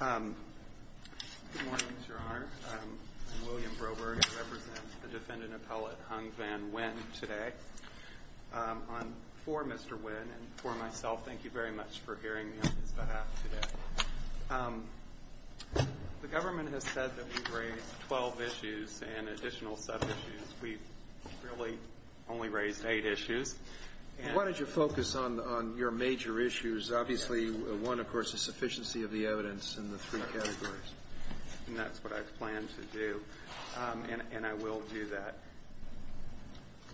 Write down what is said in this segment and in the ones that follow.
Good morning, your honor. I'm William Broberg. I represent the defendant appellate Hung Van Nguyen today. For Mr. Nguyen and for myself, thank you very much for hearing me on his behalf today. The government has said that we've raised 12 issues and additional sub-issues. We've really only raised eight issues. Why don't you focus on your major issues? Obviously, one, of course, is sufficiency of the evidence in the three categories. And that's what I plan to do. And I will do that.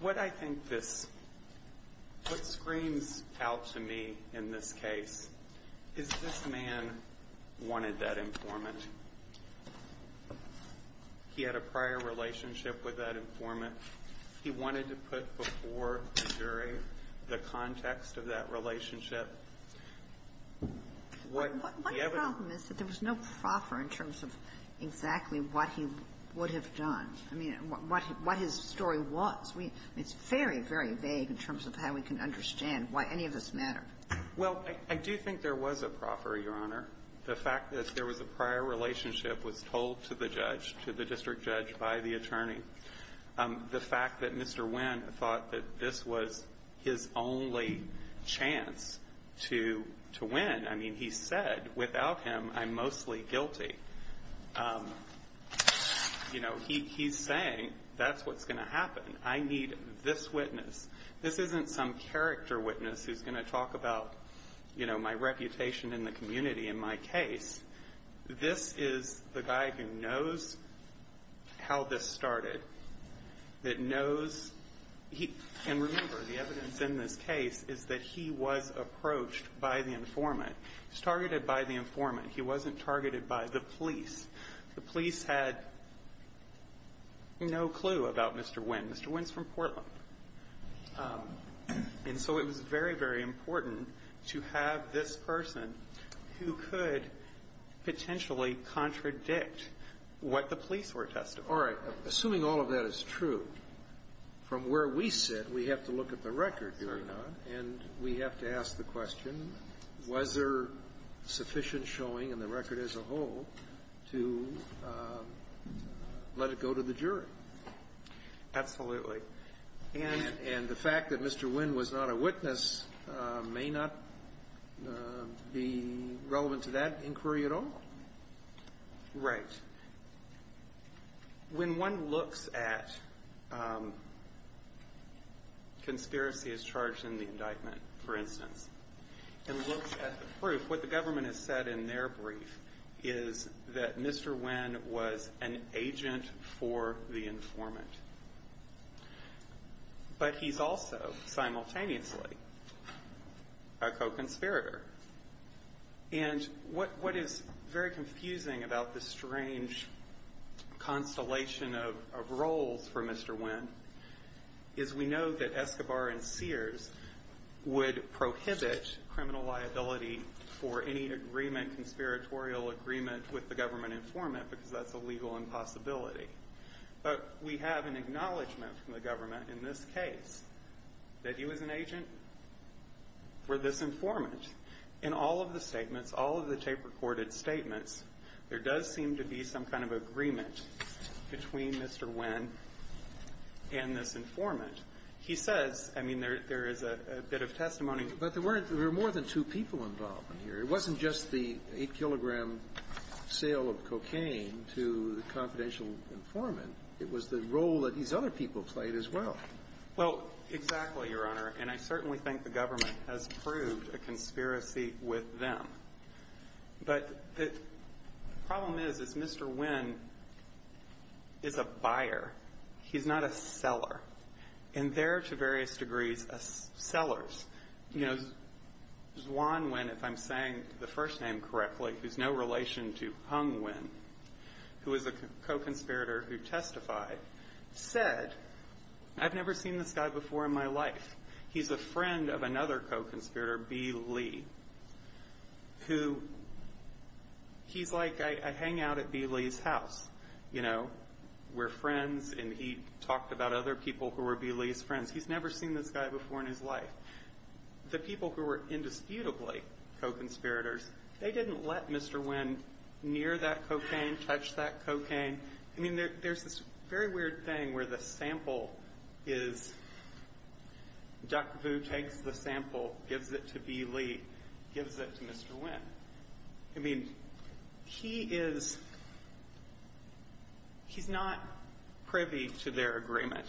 What I think this – what screams out to me in this case is this man wanted that informant. He had a prior relationship with that informant. He wanted to put before the jury the context of that relationship. What the evidence – What the problem is that there was no proffer in terms of exactly what he would have done, I mean, what his story was. It's very, very vague in terms of how we can understand why any of this mattered. Well, I do think there was a proffer, your honor. The fact that there was a prior relationship was told to the judge, to the district judge by the attorney. The fact that Mr. Nguyen thought that this was his only chance to win. I mean, he said, without him, I'm mostly guilty. You know, he's saying that's what's going to happen. I need this witness. This isn't some character witness who's going to talk about, you know, my reputation in the community in my case. This is the guy who knows how this started. That knows – and remember, the evidence in this case is that he was approached by the informant. He was targeted by the informant. He wasn't targeted by the police. The police had no clue about Mr. Nguyen. Mr. Nguyen's from Portland. And so it was very, very important to have this person who could potentially contradict what the police were testifying. All right. Assuming all of that is true, from where we sit, we have to look at the record, your honor. And we have to ask the question, was there sufficient showing in the record as a whole to let it go to the jury? Absolutely. And the fact that Mr. Nguyen was not a witness may not be relevant to that inquiry at all? Right. When one looks at conspiracies charged in the indictment, for instance, and looks at the proof, what the government has said in their brief is that Mr. Nguyen was an agent for the informant. But he's also simultaneously a co-conspirator. And what is very confusing about this strange constellation of roles for Mr. Nguyen is we know that Escobar and Sears would prohibit criminal liability for any agreement, conspiratorial agreement, with the government informant, because that's a legal impossibility. But we have an acknowledgment from the government in this case that he was an agent for this informant. In all of the statements, all of the tape-recorded statements, there does seem to be some kind of agreement between Mr. Nguyen and this informant. He says, I mean, there is a bit of testimony. But there were more than two people involved in here. It wasn't just the 8-kilogram sale of cocaine to the confidential informant. It was the role that these other people played as well. Well, exactly, Your Honor. And I certainly think the government has proved a conspiracy with them. But the problem is, is Mr. Nguyen is a buyer. He's not a seller. And they're, to various degrees, sellers. You know, Xuan Nguyen, if I'm saying the first name correctly, who's no relation to Hung Nguyen, who is a co-conspirator who testified, said, I've never seen this guy before in my life. He's a friend of another co-conspirator, B. Lee, who he's like a hangout at B. Lee's house, you know, we're friends, and he talked about other people who were B. Lee's friends. He's never seen this guy before in his life. The people who were indisputably co-conspirators, they didn't let Mr. Nguyen near that cocaine, touch that cocaine. I mean, there's this very weird thing where the sample is Dr. Vu takes the sample, gives it to B. Lee, gives it to Mr. Nguyen. I mean, he is he's not privy to their agreement.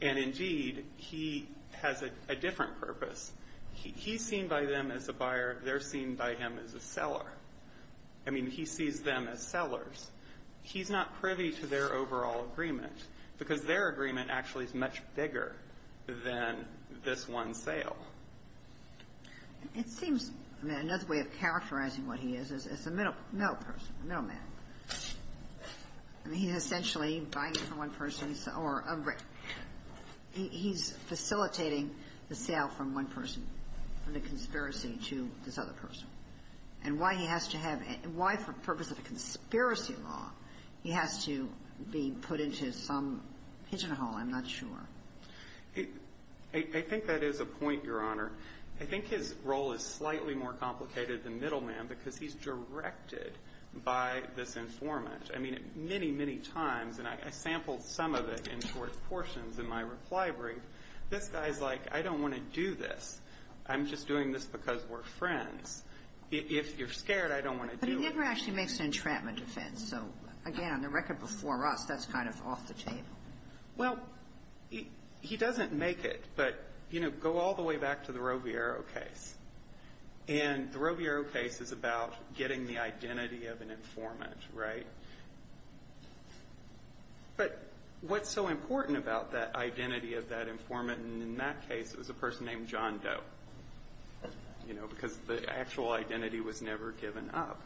And, indeed, he has a different purpose. He's seen by them as a buyer. They're seen by him as a seller. I mean, he sees them as sellers. He's not privy to their overall agreement, because their agreement actually is much bigger than this one sale. It seems, I mean, another way of characterizing what he is, is a middle person, a middle man. I mean, he's essentially buying from one person. He's facilitating the sale from one person, from the conspiracy, to this other person. And why he has to have why, for the purpose of a conspiracy law, he has to be put into some pigeonhole, I'm not sure. I think that is a point, Your Honor. I think his role is slightly more complicated than middle man, because he's directed by this informant. I mean, many, many times, and I sampled some of it in short portions in my reply brief, this guy's like, I don't want to do this. I'm just doing this because we're friends. If you're scared, I don't want to do it. But he never actually makes an entrapment defense. So, again, on the record before us, that's kind of off the table. Well, he doesn't make it. But, you know, go all the way back to the Roviero case. And the Roviero case is about getting the identity of an informant, right? But what's so important about that identity of that informant? And in that case, it was a person named John Doe, you know, because the actual identity was never given up.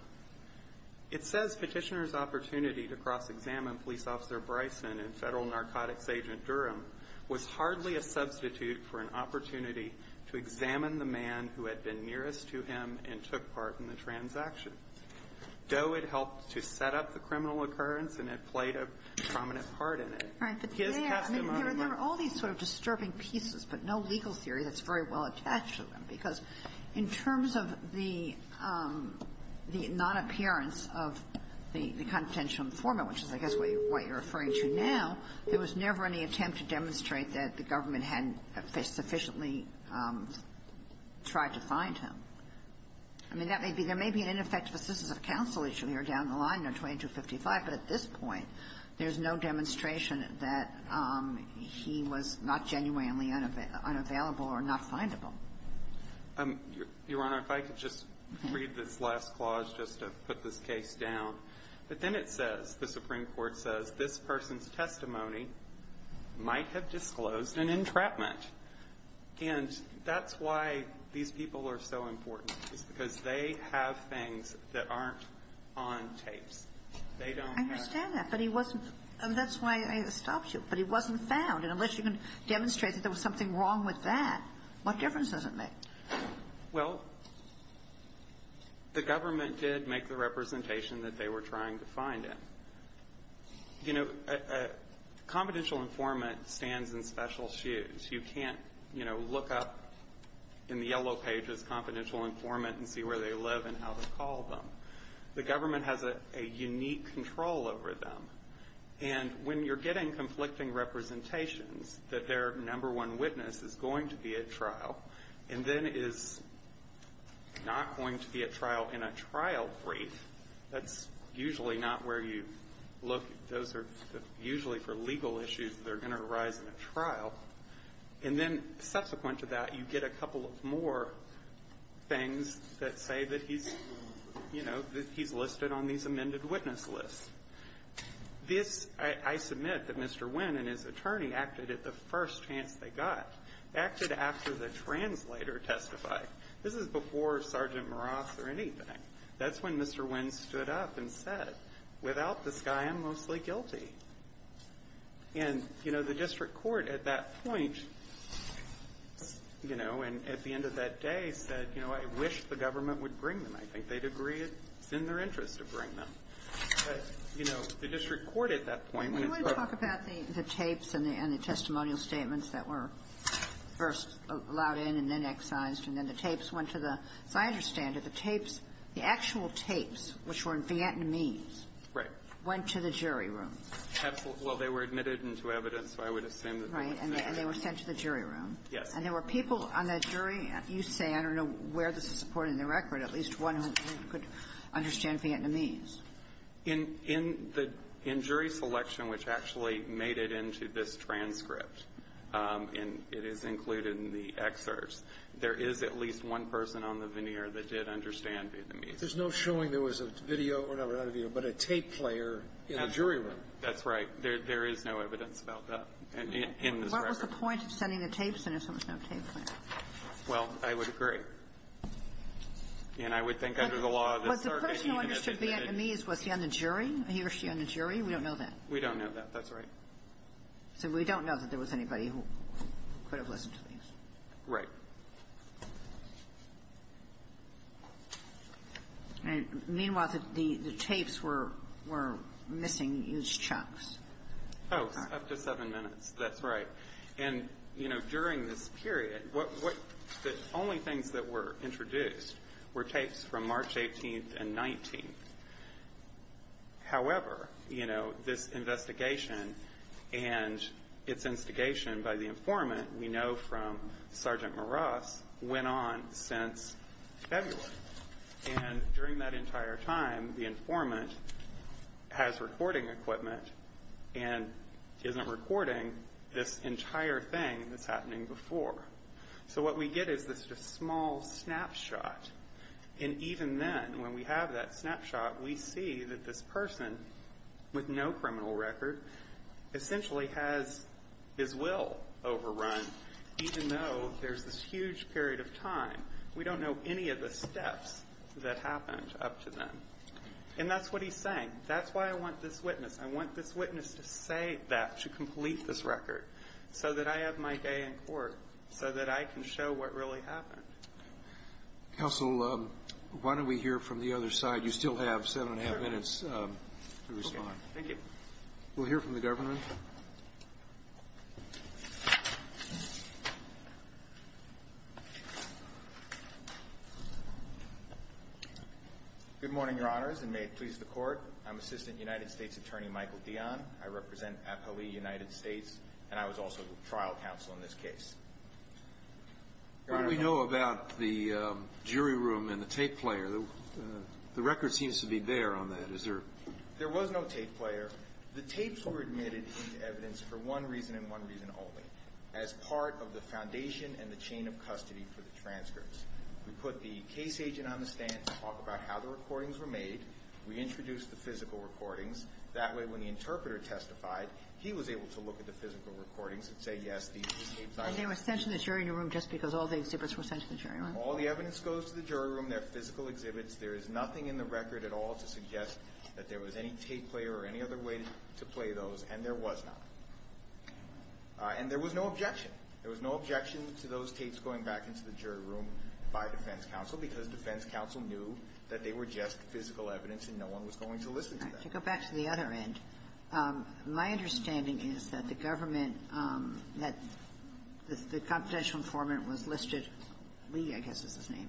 It says Petitioner's opportunity to cross-examine Police Officer Bryson and Federal Narcotics Agent Durham was hardly a substitute for an opportunity to examine the man who had been nearest to him and took part in the transaction. Doe had helped to set up the criminal occurrence and had played a prominent part in it. His testimony was the same. All right. But there are all these sort of disturbing pieces, but no legal theory that's very well attached to them, because in terms of the non-appearance of the confidential informant, which is, I guess, what you're referring to now, there was never any attempt to demonstrate that the government hadn't sufficiently tried to find him. I mean, that may be an ineffective assistance of counsel issue here down the line, no. 2255, but at this point, there's no demonstration that he was not genuinely unavailable or not findable. Your Honor, if I could just read this last clause just to put this case down. But then it says, the Supreme Court says, this person's testimony might have disclosed an entrapment. And that's why these people are so important, is because they have things that aren't on tapes. They don't have to. I understand that, but he wasn't – that's why I stopped you. But he wasn't found. And unless you can demonstrate that there was something wrong with that, what difference does it make? Well, the government did make the representation that they were trying to find him. You know, a confidential informant stands in special shoes. You can't, you know, look up in the yellow pages, confidential informant, and see where they live and how to call them. The government has a unique control over them. And when you're getting conflicting representations that their number one witness is going to be at trial and then is not going to be at trial in a trial brief, that's usually not where you look. Those are usually for legal issues that are going to arise in a trial. And then subsequent to that, you get a couple of more things that say that he's, you know, that he's listed on these amended witness lists. This – I submit that Mr. Wynn and his attorney acted at the first chance they got, acted after the translator testified. This is before Sergeant Morath or anything. That's when Mr. Wynn stood up and said, without this guy, I'm mostly guilty. And, you know, the district court at that point, you know, and at the end of that day, said, you know, I wish the government would bring them. I think they'd agree it's in their interest to bring them. But, you know, the district court at that point, when it's up to them. Kagan. You want to talk about the tapes and the testimonial statements that were first allowed in and then excised, and then the tapes went to the – as I understand it, the tapes, the actual tapes, which were in Vietnamese. Right. Went to the jury room. Absolutely. Well, they were admitted into evidence, so I would assume that they went to the jury room. Right. And they were sent to the jury room. And there were people on that jury – you say, I don't know where this is supported in the record, at least one who could understand Vietnamese. In the – in jury selection, which actually made it into this transcript, and it is included in the excerpts, there is at least one person on the veneer that did understand Vietnamese. There's no showing there was a video or whatever, but a tape player in the jury room. That's right. There is no evidence about that in this record. What was the point of sending the tapes in if there was no tape player? Well, I would agree. And I would think under the law of the circuit, even if they did – Was the person who understood Vietnamese, was he on the jury? He or she on the jury? We don't know that. We don't know that. That's right. So we don't know that there was anybody who could have listened to these. Right. And meanwhile, the tapes were missing huge chunks. Oh, up to seven minutes. That's right. And, you know, during this period, the only things that were introduced were tapes from March 18th and 19th. However, you know, this investigation and its instigation by the informant we know from Sergeant Maras went on since February. And during that entire time, the informant has recording equipment and isn't recording this entire thing that's happening before. So what we get is this small snapshot. And even then, when we have that snapshot, we see that this person with no criminal record essentially has his will overrun, even though there's this huge period of time. We don't know any of the steps that happened up to then. And that's what he's saying. That's why I want this witness. I want this witness to say that, to complete this record, so that I have my day in court, so that I can show what really happened. Counsel, why don't we hear from the other side? You still have seven and a half minutes to respond. Okay. Thank you. We'll hear from the government. Good morning, Your Honors, and may it please the Court. I'm Assistant United States Attorney Michael Dion. I represent Appali United States, and I was also trial counsel in this case. Your Honor. What do we know about the jury room and the tape player? The record seems to be bare on that. There was no tape player. The tapes were admitted into evidence for one reason and one reason only, as part of the foundation and the chain of custody for the transcripts. We put the case agent on the stand to talk about how the recordings were made. We introduced the physical recordings. That way, when the interpreter testified, he was able to look at the physical recordings and say, yes, these were the tapes. And they were sent to the jury room just because all the exhibits were sent to the jury room? All the evidence goes to the jury room. They're physical exhibits. There is nothing in the record at all to suggest that there was any tape player or any other way to play those, and there was not. And there was no objection. There was no objection to those tapes going back into the jury room by defense counsel, because defense counsel knew that they were just physical evidence and no one was going to listen to them. To go back to the other end, my understanding is that the government, that the confidential informant was listed, Lee, I guess is his name,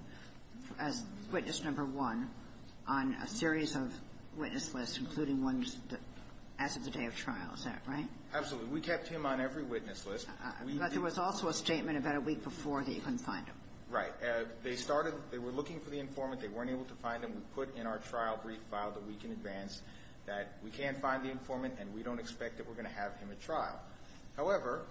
as witness number one on a series of witness lists, including ones as of the day of trial. Is that right? Absolutely. We kept him on every witness list. But there was also a statement about a week before that you couldn't find him. Right. They started, they were looking for the informant. They weren't able to find him. We put in our trial brief file the week in advance that we can't find the informant and we don't expect that we're going to have him at trial. However,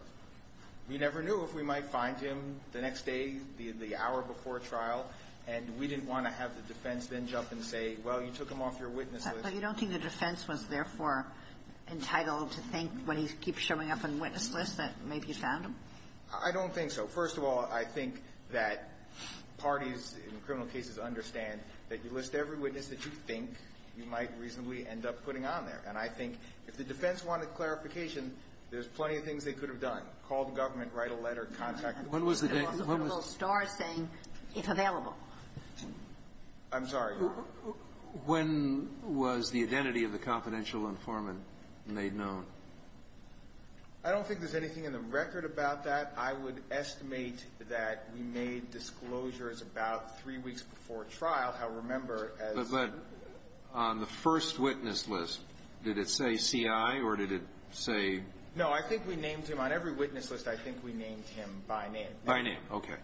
we never knew if we might find him the next day, the hour before trial, and we didn't want to have the defense then jump and say, well, you took him off your witness list. But you don't think the defense was, therefore, entitled to think when he keeps showing up on the witness list that maybe you found him? I don't think so. But first of all, I think that parties in criminal cases understand that you list every witness that you think you might reasonably end up putting on there. And I think if the defense wanted clarification, there's plenty of things they could have done. Call the government, write a letter, contact the witnesses. When was the day? When was the day? The little star saying, it's available. I'm sorry. When was the identity of the confidential informant made known? I don't think there's anything in the record about that. I would estimate that we made disclosures about three weeks before trial. However, remember, as the first witness list, did it say C.I. or did it say? No. I think we named him. On every witness list, I think we named him by name. By name. Okay.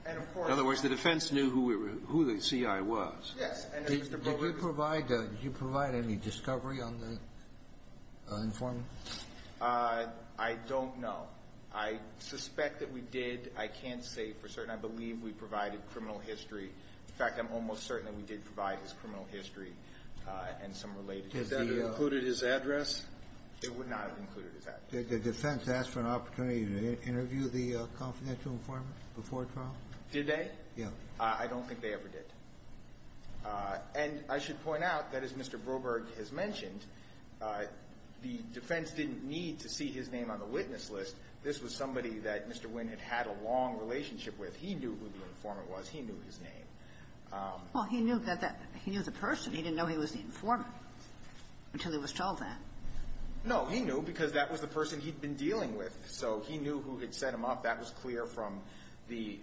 In other words, the defense knew who the C.I. was. Yes. Did you provide any discovery on the informant? I don't know. I suspect that we did. I can't say for certain. I believe we provided criminal history. In fact, I'm almost certain that we did provide his criminal history and some related information. Did that include his address? It would not have included his address. Did the defense ask for an opportunity to interview the confidential informant before trial? Did they? Yes. I don't think they ever did. And I should point out that, as Mr. Broberg has mentioned, the defense didn't need to see his name on the witness list. This was somebody that Mr. Winn had had a long relationship with. He knew who the informant was. He knew his name. Well, he knew that that he was a person. He didn't know he was the informant until he was told that. No. He knew because that was the person he'd been dealing with. So he knew who had set him up. That was clear from the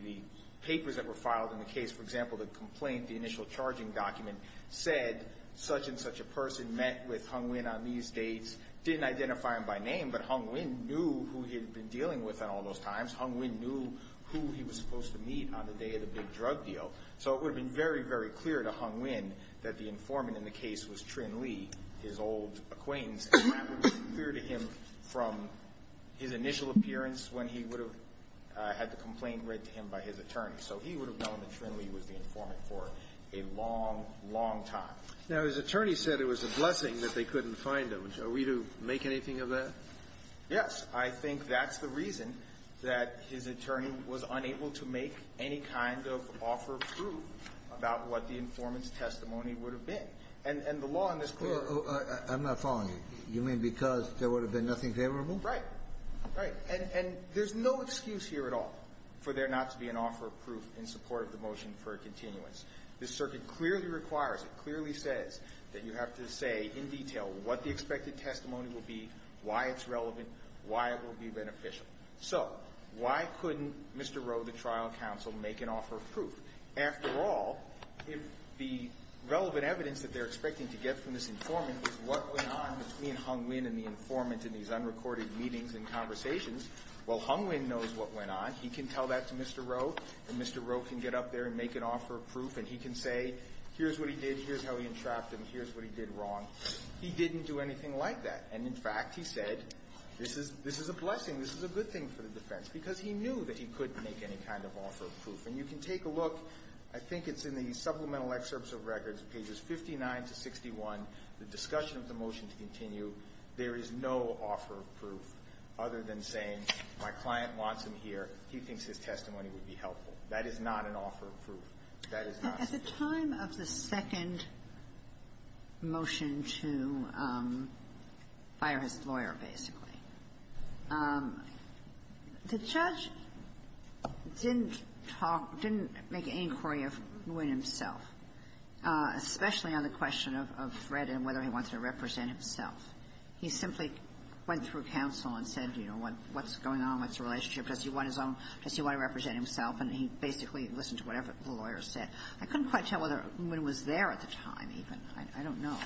papers that were filed in the case. For example, the complaint, the initial charging document, said such and such a person met with Hung Winn on these dates, didn't identify him by name, but Hung Winn knew who he'd been dealing with at all those times. Hung Winn knew who he was supposed to meet on the day of the big drug deal. So it would have been very, very clear to Hung Winn that the informant in the case was Trinh Le, his old acquaintance. And that would have been clear to him from his initial appearance when he would have had the complaint read to him by his attorney. So he would have known that Trinh Le was the informant for a long, long time. Now, his attorney said it was a blessing that they couldn't find him. Are we to make anything of that? Yes. I think that's the reason that his attorney was unable to make any kind of offer of proof about what the informant's testimony would have been. And the law in this case ---- I'm not following you. You mean because there would have been nothing favorable? Right. Right. And there's no excuse here at all for there not to be an offer of proof in support of the motion for a continuance. This circuit clearly requires, it clearly says that you have to say in detail what the expected testimony will be, why it's relevant, why it will be beneficial. So why couldn't Mr. Rowe, the trial counsel, make an offer of proof? After all, if the relevant evidence that they're expecting to get from this informant is what went on between Hung Winn and the informant in these unrecorded meetings and conversations, well, Hung Winn knows what went on. He can tell that to Mr. Rowe, and Mr. Rowe can get up there and make an offer of proof, and he can say here's what he did, here's how he entrapped him, here's what he did wrong. He didn't do anything like that. And, in fact, he said this is a blessing, this is a good thing for the defense because he knew that he couldn't make any kind of offer of proof. And you can take a look. I think it's in the supplemental excerpts of records, pages 59 to 61, the discussion of the motion to continue. There is no offer of proof other than saying my client wants him here, he thinks his testimony would be helpful. That is not an offer of proof. That is not. Ginsburg. At the time of the second motion to fire his lawyer, basically, the judge didn't talk, didn't make any inquiry of Winn himself, especially on the question of threat and whether he wanted to represent himself. He simply went through counsel and said, you know, what's going on, what's the relationship, does he want his own, does he want to represent himself, and he basically listened to whatever the lawyer said. I couldn't quite tell whether Winn was there at the time even. I don't know.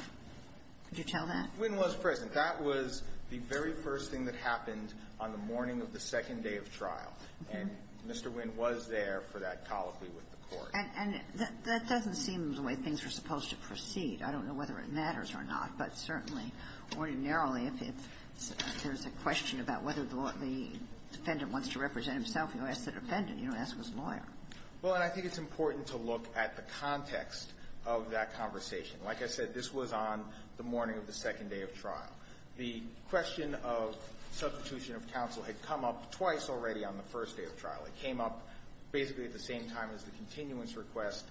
Could you tell that? Winn was present. That was the very first thing that happened on the morning of the second day of trial. And Mr. Winn was there for that colloquy with the court. And that doesn't seem the way things were supposed to proceed. I don't know whether it matters or not, but certainly, ordinarily, if there's a question about whether the defendant wants to represent himself, you ask the defendant. You don't ask his lawyer. Well, and I think it's important to look at the context of that conversation. Like I said, this was on the morning of the second day of trial. The question of substitution of counsel had come up twice already on the first day of trial. It came up basically at the same time as the continuance request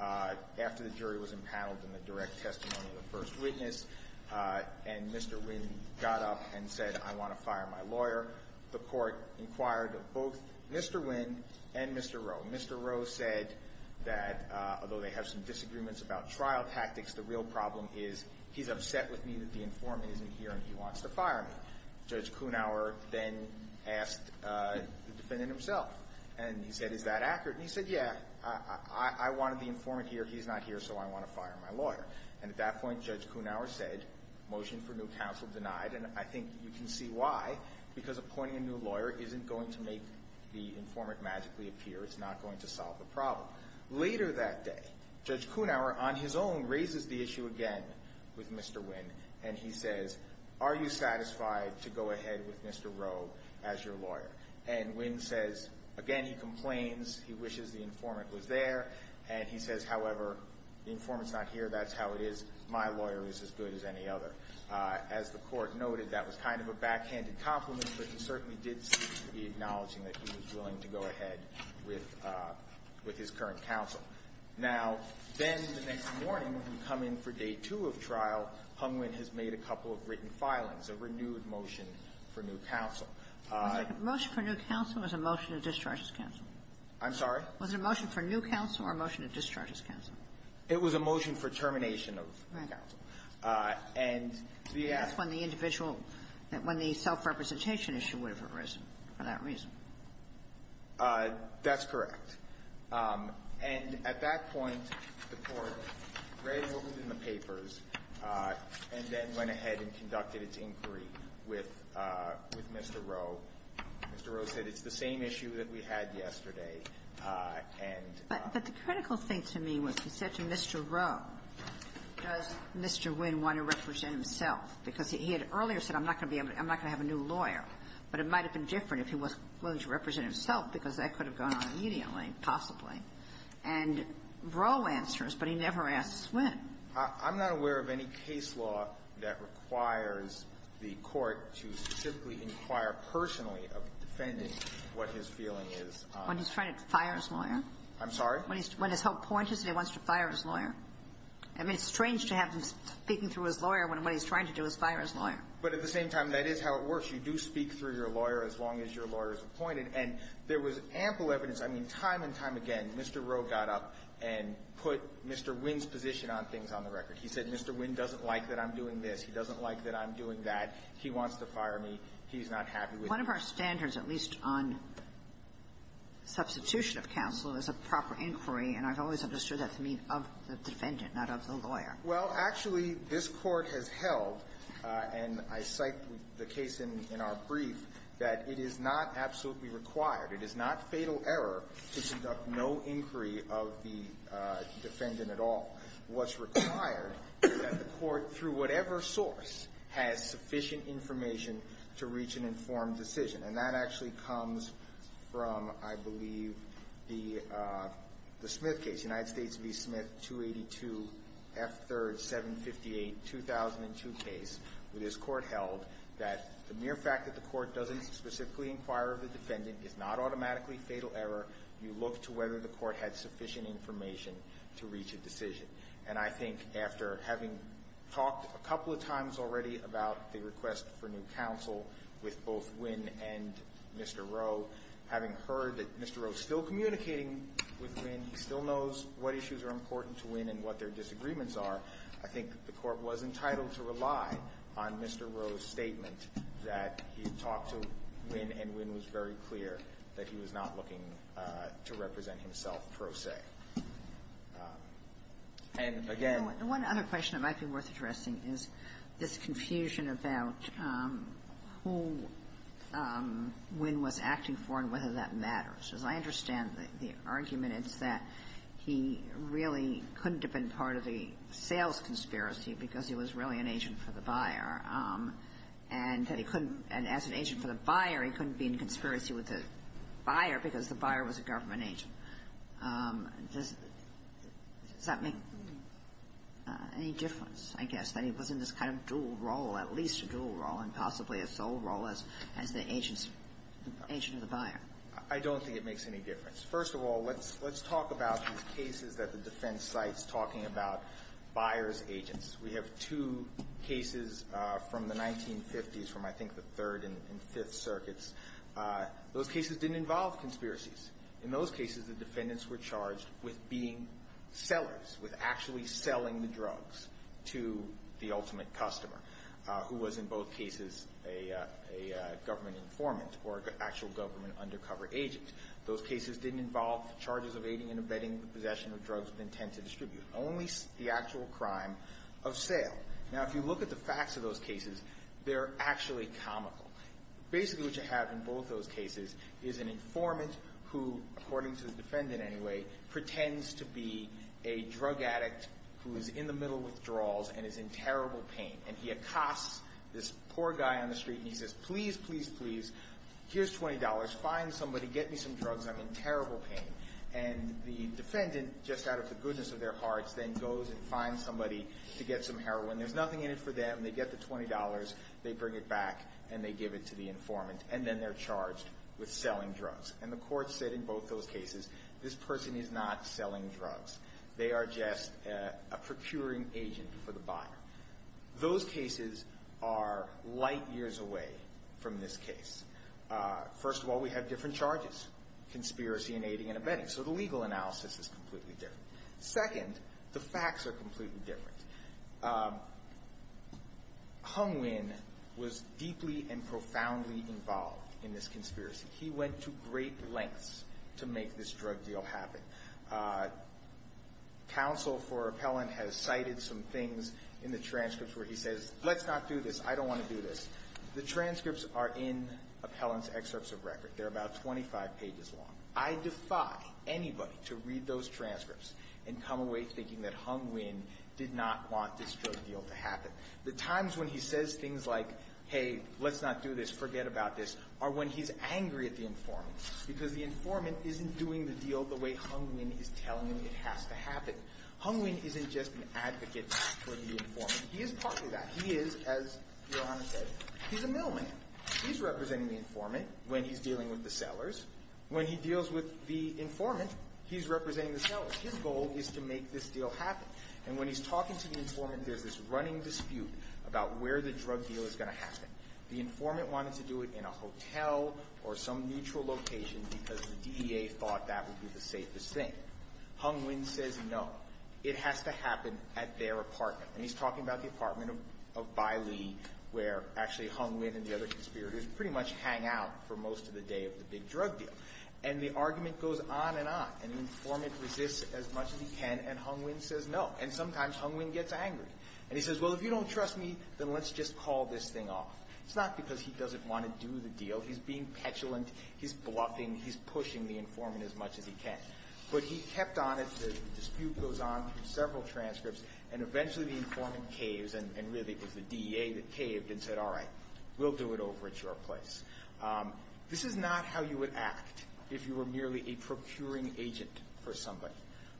after the jury was paneled in the direct testimony of the first witness. And Mr. Winn got up and said, I want to fire my lawyer. The court inquired of both Mr. Winn and Mr. Rowe. Mr. Rowe said that, although they have some disagreements about trial tactics, the real problem is he's upset with me that the informant isn't here and he wants to fire me. Judge Kuhnhauer then asked the defendant himself. And he said, is that accurate? And he said, yeah. I wanted the informant here. He's not here, so I want to fire my lawyer. And at that point, Judge Kuhnhauer said, motion for new counsel denied. And I think you can see why, because appointing a new lawyer isn't going to make the informant magically appear. It's not going to solve the problem. Later that day, Judge Kuhnhauer on his own raises the issue again with Mr. Winn. And he says, are you satisfied to go ahead with Mr. Rowe as your lawyer? And Winn says, again, he complains. He wishes the informant was there. And he says, however, the informant's not here. That's how it is. My lawyer is as good as any other. As the Court noted, that was kind of a backhanded compliment, but he certainly did seem to be acknowledging that he was willing to go ahead with his current counsel. Now, then the next morning, when we come in for day two of trial, Hunwin has made a couple of written filings, a renewed motion for new counsel. Kagan. Was it a motion for new counsel or was it a motion to discharge his counsel? I'm sorry? Was it a motion for new counsel or a motion to discharge his counsel? It was a motion for termination of counsel. Right. And the ask of the individual, when the self-representation issue would have arisen for that reason. That's correct. And at that point, the Court read what was in the papers and then went ahead and conducted its inquiry with Mr. Rowe. Mr. Rowe said, it's the same issue that we had yesterday. And the critical thing to me was he said to Mr. Rowe, does Mr. Nguyen want to represent himself? Because he had earlier said, I'm not going to be able to, I'm not going to have a new lawyer. But it might have been different if he was willing to represent himself, because that could have gone on immediately, possibly. And Rowe answers, but he never asks Nguyen. I'm not aware of any case law that requires the Court to specifically inquire personally of defending what his feeling is. When he's trying to fire his lawyer? I'm sorry? When his hope point is that he wants to fire his lawyer. I mean, it's strange to have him speaking through his lawyer when what he's trying to do is fire his lawyer. But at the same time, that is how it works. You do speak through your lawyer as long as your lawyer is appointed. And there was ample evidence. I mean, time and time again, Mr. Rowe got up and put Mr. Nguyen's position on things on the record. He said Mr. Nguyen doesn't like that I'm doing this. He doesn't like that I'm doing that. He wants to fire me. He's not happy with me. One of our standards, at least on substitution of counsel, is a proper inquiry. And I've always understood that to mean of the defendant, not of the lawyer. Well, actually, this Court has held, and I cite the case in our brief, that it is not absolutely required, it is not fatal error to conduct no inquiry of the defendant at all. What's required is that the Court, through whatever source, has sufficient information to reach an informed decision. And that actually comes from, I believe, the Smith case, United States v. Smith, 282 F. 3rd, 758, 2002 case, where this Court has held that the mere fact that the Court doesn't specifically inquire of the defendant is not automatically fatal error. You look to whether the Court had sufficient information to reach a decision. And I think after having talked a couple of times already about the request for new counsel with both Nguyen and Mr. Rowe, having heard that Mr. Rowe is still communicating with Nguyen, he still knows what issues are important to Nguyen and what their disagreements are, I think the Court was entitled to rely on Mr. Rowe's statement that he had talked to Nguyen, and Nguyen was very clear that he was not looking to represent himself, pro se. And again — And one other question that might be worth addressing is this confusion about who Nguyen was acting for and whether that matters. As I understand the argument, it's that he really couldn't have been part of the sales conspiracy because he was really an agent for the buyer, and that he couldn't — as an agent for the buyer, he couldn't be in conspiracy with the buyer because the buyer was a government agent. Does that make any difference, I guess, that he was in this kind of dual role, at least a dual role, and possibly a sole role as the agent of the buyer? I don't think it makes any difference. First of all, let's talk about these cases that the defense cites, talking about buyer's agents. We have two cases from the 1950s, from I think the Third and Fifth Circuits. Those cases didn't involve conspiracies. In those cases, the defendants were charged with being sellers, with actually selling the drugs to the ultimate customer, who was in both cases a government informant or an actual government undercover agent. Those cases didn't involve charges of aiding and abetting the possession of drugs with intent to distribute, only the actual crime of sale. Now, if you look at the facts of those cases, they're actually comical. Basically what you have in both those cases is an informant who, according to the court, pretends to be a drug addict who is in the middle of withdrawals and is in terrible pain. And he accosts this poor guy on the street, and he says, Please, please, please, here's $20. Find somebody. Get me some drugs. I'm in terrible pain. And the defendant, just out of the goodness of their hearts, then goes and finds somebody to get some heroin. There's nothing in it for them. They get the $20. They bring it back, and they give it to the informant. And then they're charged with selling drugs. And the court said in both those cases, This person is not selling drugs. They are just a procuring agent for the buyer. Those cases are light years away from this case. First of all, we have different charges, conspiracy and aiding and abetting. So the legal analysis is completely different. Second, the facts are completely different. Hung Nguyen was deeply and profoundly involved in this conspiracy. He went to great lengths to make this drug deal happen. Counsel for Appellant has cited some things in the transcripts where he says, Let's not do this. I don't want to do this. The transcripts are in Appellant's excerpts of record. They're about 25 pages long. I defy anybody to read those transcripts and come away thinking that Hung Nguyen did not want this drug deal to happen. The times when he says things like, Hey, let's not do this, forget about this, are when he's angry at the informant because the informant isn't doing the deal the way Hung Nguyen is telling him it has to happen. Hung Nguyen isn't just an advocate for the informant. He is part of that. He is, as Your Honor said, he's a mailman. He's representing the informant when he's dealing with the sellers. When he deals with the informant, he's representing the sellers. His goal is to make this deal happen. And when he's talking to the informant, there's this running dispute about where the drug deal is going to happen. The informant wanted to do it in a hotel or some neutral location because the DEA thought that would be the safest thing. Hung Nguyen says no. It has to happen at their apartment. And he's talking about the apartment of Bai Li where actually Hung Nguyen and the other conspirators pretty much hang out for most of the day of the big drug deal. And the argument goes on and on. And the informant resists as much as he can, and Hung Nguyen says no. And sometimes Hung Nguyen gets angry. And he says, Well, if you don't trust me, then let's just call this thing off. It's not because he doesn't want to do the deal. He's being petulant. He's bluffing. He's pushing the informant as much as he can. But he kept on it. The dispute goes on through several transcripts. And eventually the informant caves and really it was the DEA that caved and said, All right, we'll do it over at your place. This is not how you would act if you were merely a procuring agent for somebody.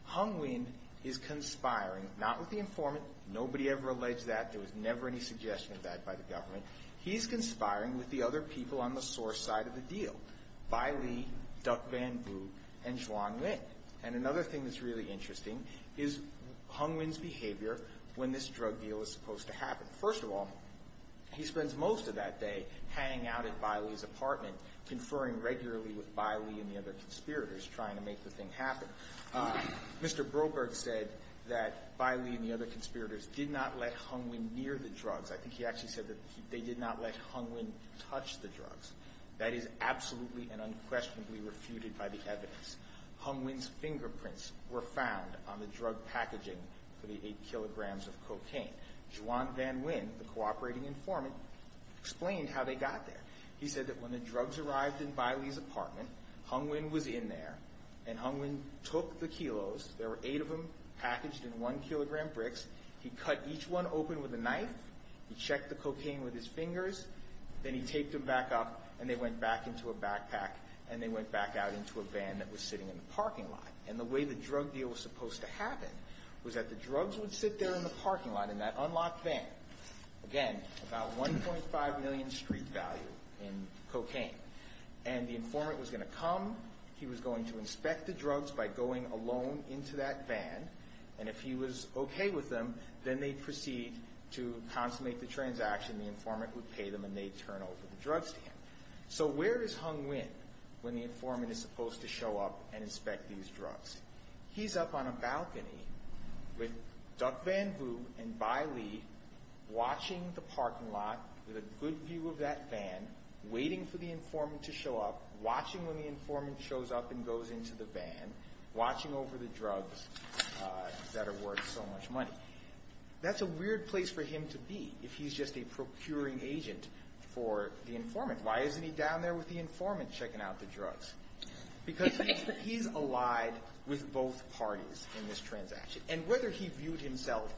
Hung Nguyen is conspiring, not with the informant. Nobody ever alleged that. There was never any suggestion of that by the government. He's conspiring with the other people on the source side of the deal, Bai Li, Duck Van Bu, and Xuan Nguyen. And another thing that's really interesting is Hung Nguyen's behavior when this drug deal is supposed to happen. First of all, he spends most of that day hanging out at Bai Li's apartment, conferring regularly with Bai Li and the other conspirators, trying to make the thing happen. Mr. Broberg said that Bai Li and the other conspirators did not let Hung Nguyen near the drugs. I think he actually said that they did not let Hung Nguyen touch the drugs. That is absolutely and unquestionably refuted by the evidence. Hung Nguyen's fingerprints were found on the drug packaging for the eight kilograms of cocaine. Xuan Van Nguyen, the cooperating informant, explained how they got there. He said that when the drugs arrived in Bai Li's apartment, Hung Nguyen was in there and Hung Nguyen took the kilos. There were eight of them packaged in one kilogram bricks. He cut each one open with a knife. He checked the cocaine with his fingers. Then he taped them back up and they went back into a backpack and they went back out into a van that was sitting in the parking lot. And the way the drug deal was supposed to happen was that the drugs would sit there in the parking lot in that unlocked van. Again, about 1.5 million street value in cocaine. And the informant was going to come. He was going to inspect the drugs by going alone into that van. And if he was okay with them, then they'd proceed to consummate the transaction. The informant would pay them and they'd turn over the drugs to him. So where is Hung Nguyen when the informant is supposed to show up and inspect these drugs? He's up on a balcony with Duc Van Vu and Bai Li watching the parking lot with a good view of that van, waiting for the informant to show up, watching when the informant shows up and goes into the van, watching over the drugs that are worth so much money. That's a weird place for him to be if he's just a procuring agent for the informant. Why isn't he down there with the informant checking out the drugs? Because he's allied with both parties in this transaction. And whether he viewed himself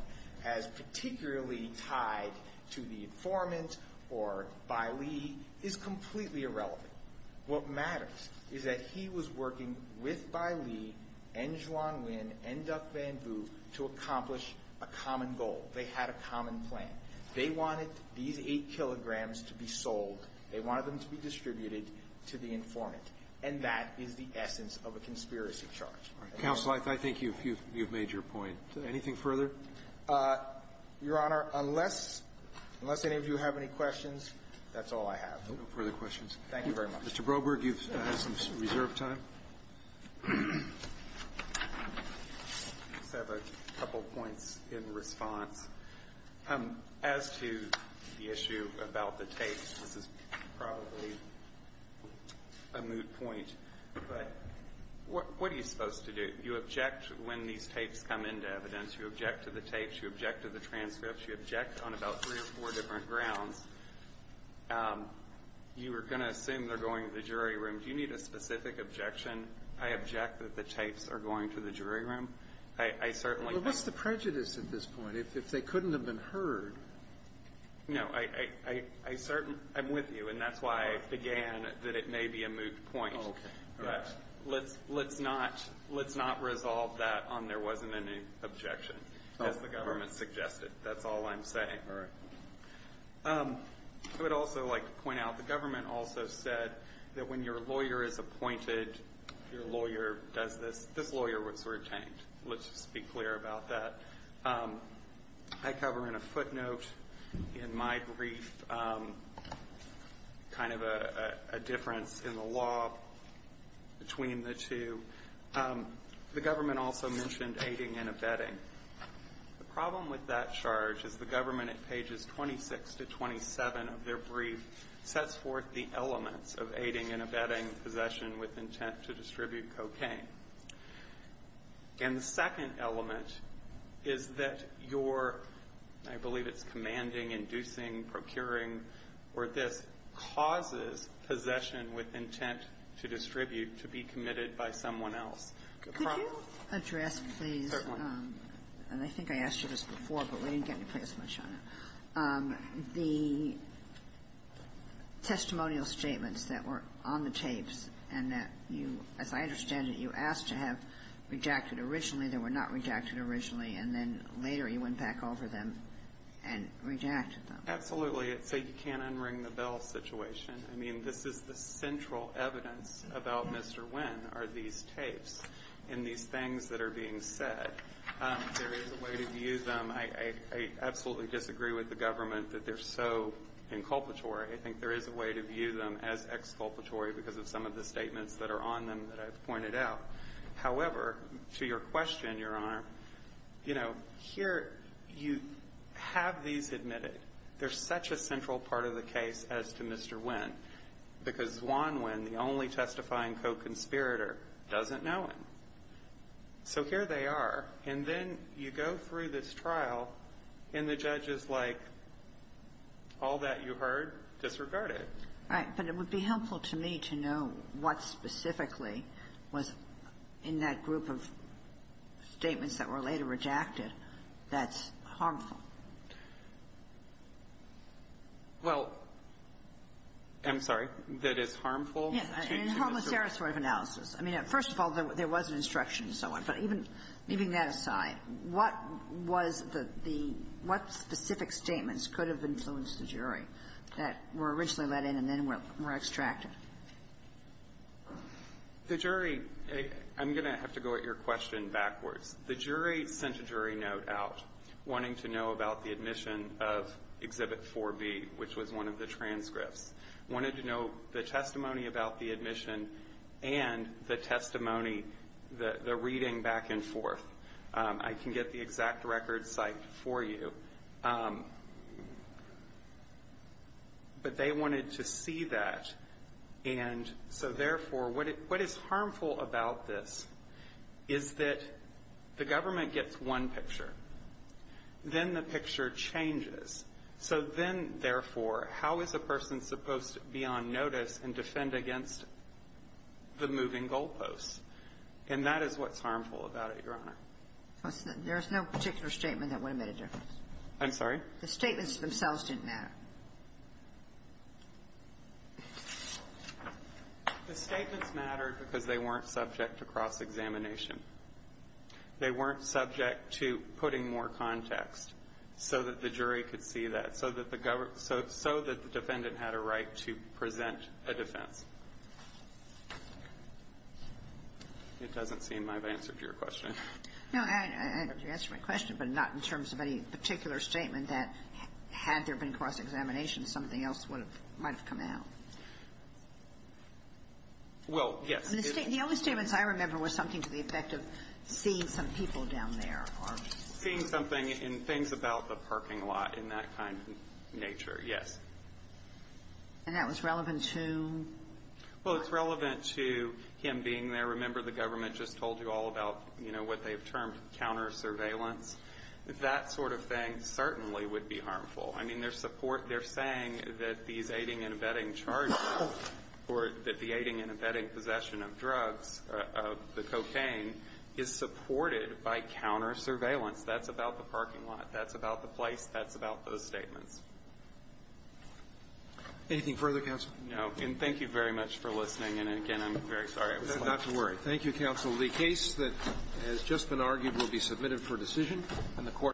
as particularly tied to the informant or Bai Li is completely irrelevant. What matters is that he was working with Bai Li and Xuan Nguyen and Duc Van Vu to accomplish a common goal. They had a common plan. They wanted these 8 kilograms to be sold. They wanted them to be distributed to the informant. And that is the essence of a conspiracy charge. Counsel, I think you've made your point. Anything further? Your Honor, unless any of you have any questions, that's all I have. No further questions. Thank you very much. Mr. Broberg, you've had some reserved time. I just have a couple points in response. As to the issue about the tapes, this is probably a moot point, but what are you supposed to do? You object when these tapes come into evidence. You object to the tapes. You object to the transcripts. You object on about three or four different grounds. You are going to assume they're going to the jury room. Do you need a specific objection? I object that the tapes are going to the jury room. I certainly don't. Well, what's the prejudice at this point? If they couldn't have been heard? No. I'm with you, and that's why I began that it may be a moot point. Okay. All right. Let's not resolve that on there wasn't any objection as the government suggested. That's all I'm saying. All right. I would also like to point out the government also said that when your lawyer is appointed, your lawyer does this. This lawyer was retained. Let's just be clear about that. I cover in a footnote in my brief kind of a difference in the law between the two. The government also mentioned aiding and abetting. The problem with that charge is the government at pages 26 to 27 of their brief sets forth the elements of aiding and abetting possession with intent to distribute cocaine. And the second element is that your, I believe it's commanding, inducing, procuring, or this causes possession with intent to distribute to be committed by someone else. Could you address, please, and I think I asked you this before, but we didn't get to play as much on it, the testimonial statements that were on the tapes and that you, as I understand it, you asked to have rejected originally. They were not rejected originally, and then later you went back over them and rejected them. Absolutely. So you can't unring the bell situation. I mean, this is the central evidence about Mr. Wynn are these tapes and these things that are being said. There is a way to view them. I absolutely disagree with the government that they're so inculpatory. I think there is a way to view them as exculpatory because of some of the statements that are on them that I've pointed out. However, to your question, Your Honor, you know, here you have these admitted. They're such a central part of the case as to Mr. Wynn because Juan Wynn, the only testifying co-conspirator, doesn't know him. So here they are. And then you go through this trial, and the judge is like, all that you heard disregarded. Right. But it would be helpful to me to know what specifically was in that group of statements that were later rejected that's harmful. Well, I'm sorry. That is harmful? Yes. In a harmless error sort of analysis. I mean, first of all, there was an instruction and so on. But even leaving that aside, what was the the what specific statements could have influenced the jury that were originally let in and then were extracted? The jury, I'm going to have to go at your question backwards. The jury sent a jury note out wanting to know about the admission of Exhibit 4B, which was one of the transcripts. Wanted to know the testimony about the admission and the testimony, the reading back and forth. I can get the exact record cited for you. But they wanted to see that. And so, therefore, what is harmful about this is that the government gets one picture. Then the picture changes. So then, therefore, how is a person supposed to be on notice and defend against the moving goalposts? And that is what's harmful about it, Your Honor. There's no particular statement that would have made a difference. I'm sorry? The statements themselves didn't matter. The statements mattered because they weren't subject to cross-examination. They weren't subject to putting more context so that the jury could see that, so that the defendant had a right to present a defense. It doesn't seem I've answered your question. No, you answered my question, but not in terms of any particular statement that, had there been cross-examination, something else might have come out. Well, yes. The only statements I remember was something to the effect of seeing some people down there or ---- Seeing something and things about the parking lot in that kind of nature, yes. And that was relevant to? Well, it's relevant to him being there. I remember the government just told you all about, you know, what they've termed counter-surveillance. That sort of thing certainly would be harmful. I mean, their support ---- they're saying that these aiding and abetting charges or that the aiding and abetting possession of drugs, of the cocaine, is supported by counter-surveillance. That's about the parking lot. That's about the place. That's about those statements. Anything further, counsel? And thank you very much for listening. And again, I'm very sorry. Not to worry. Thank you, counsel. The case that has just been argued will be submitted for decision. And the Court ----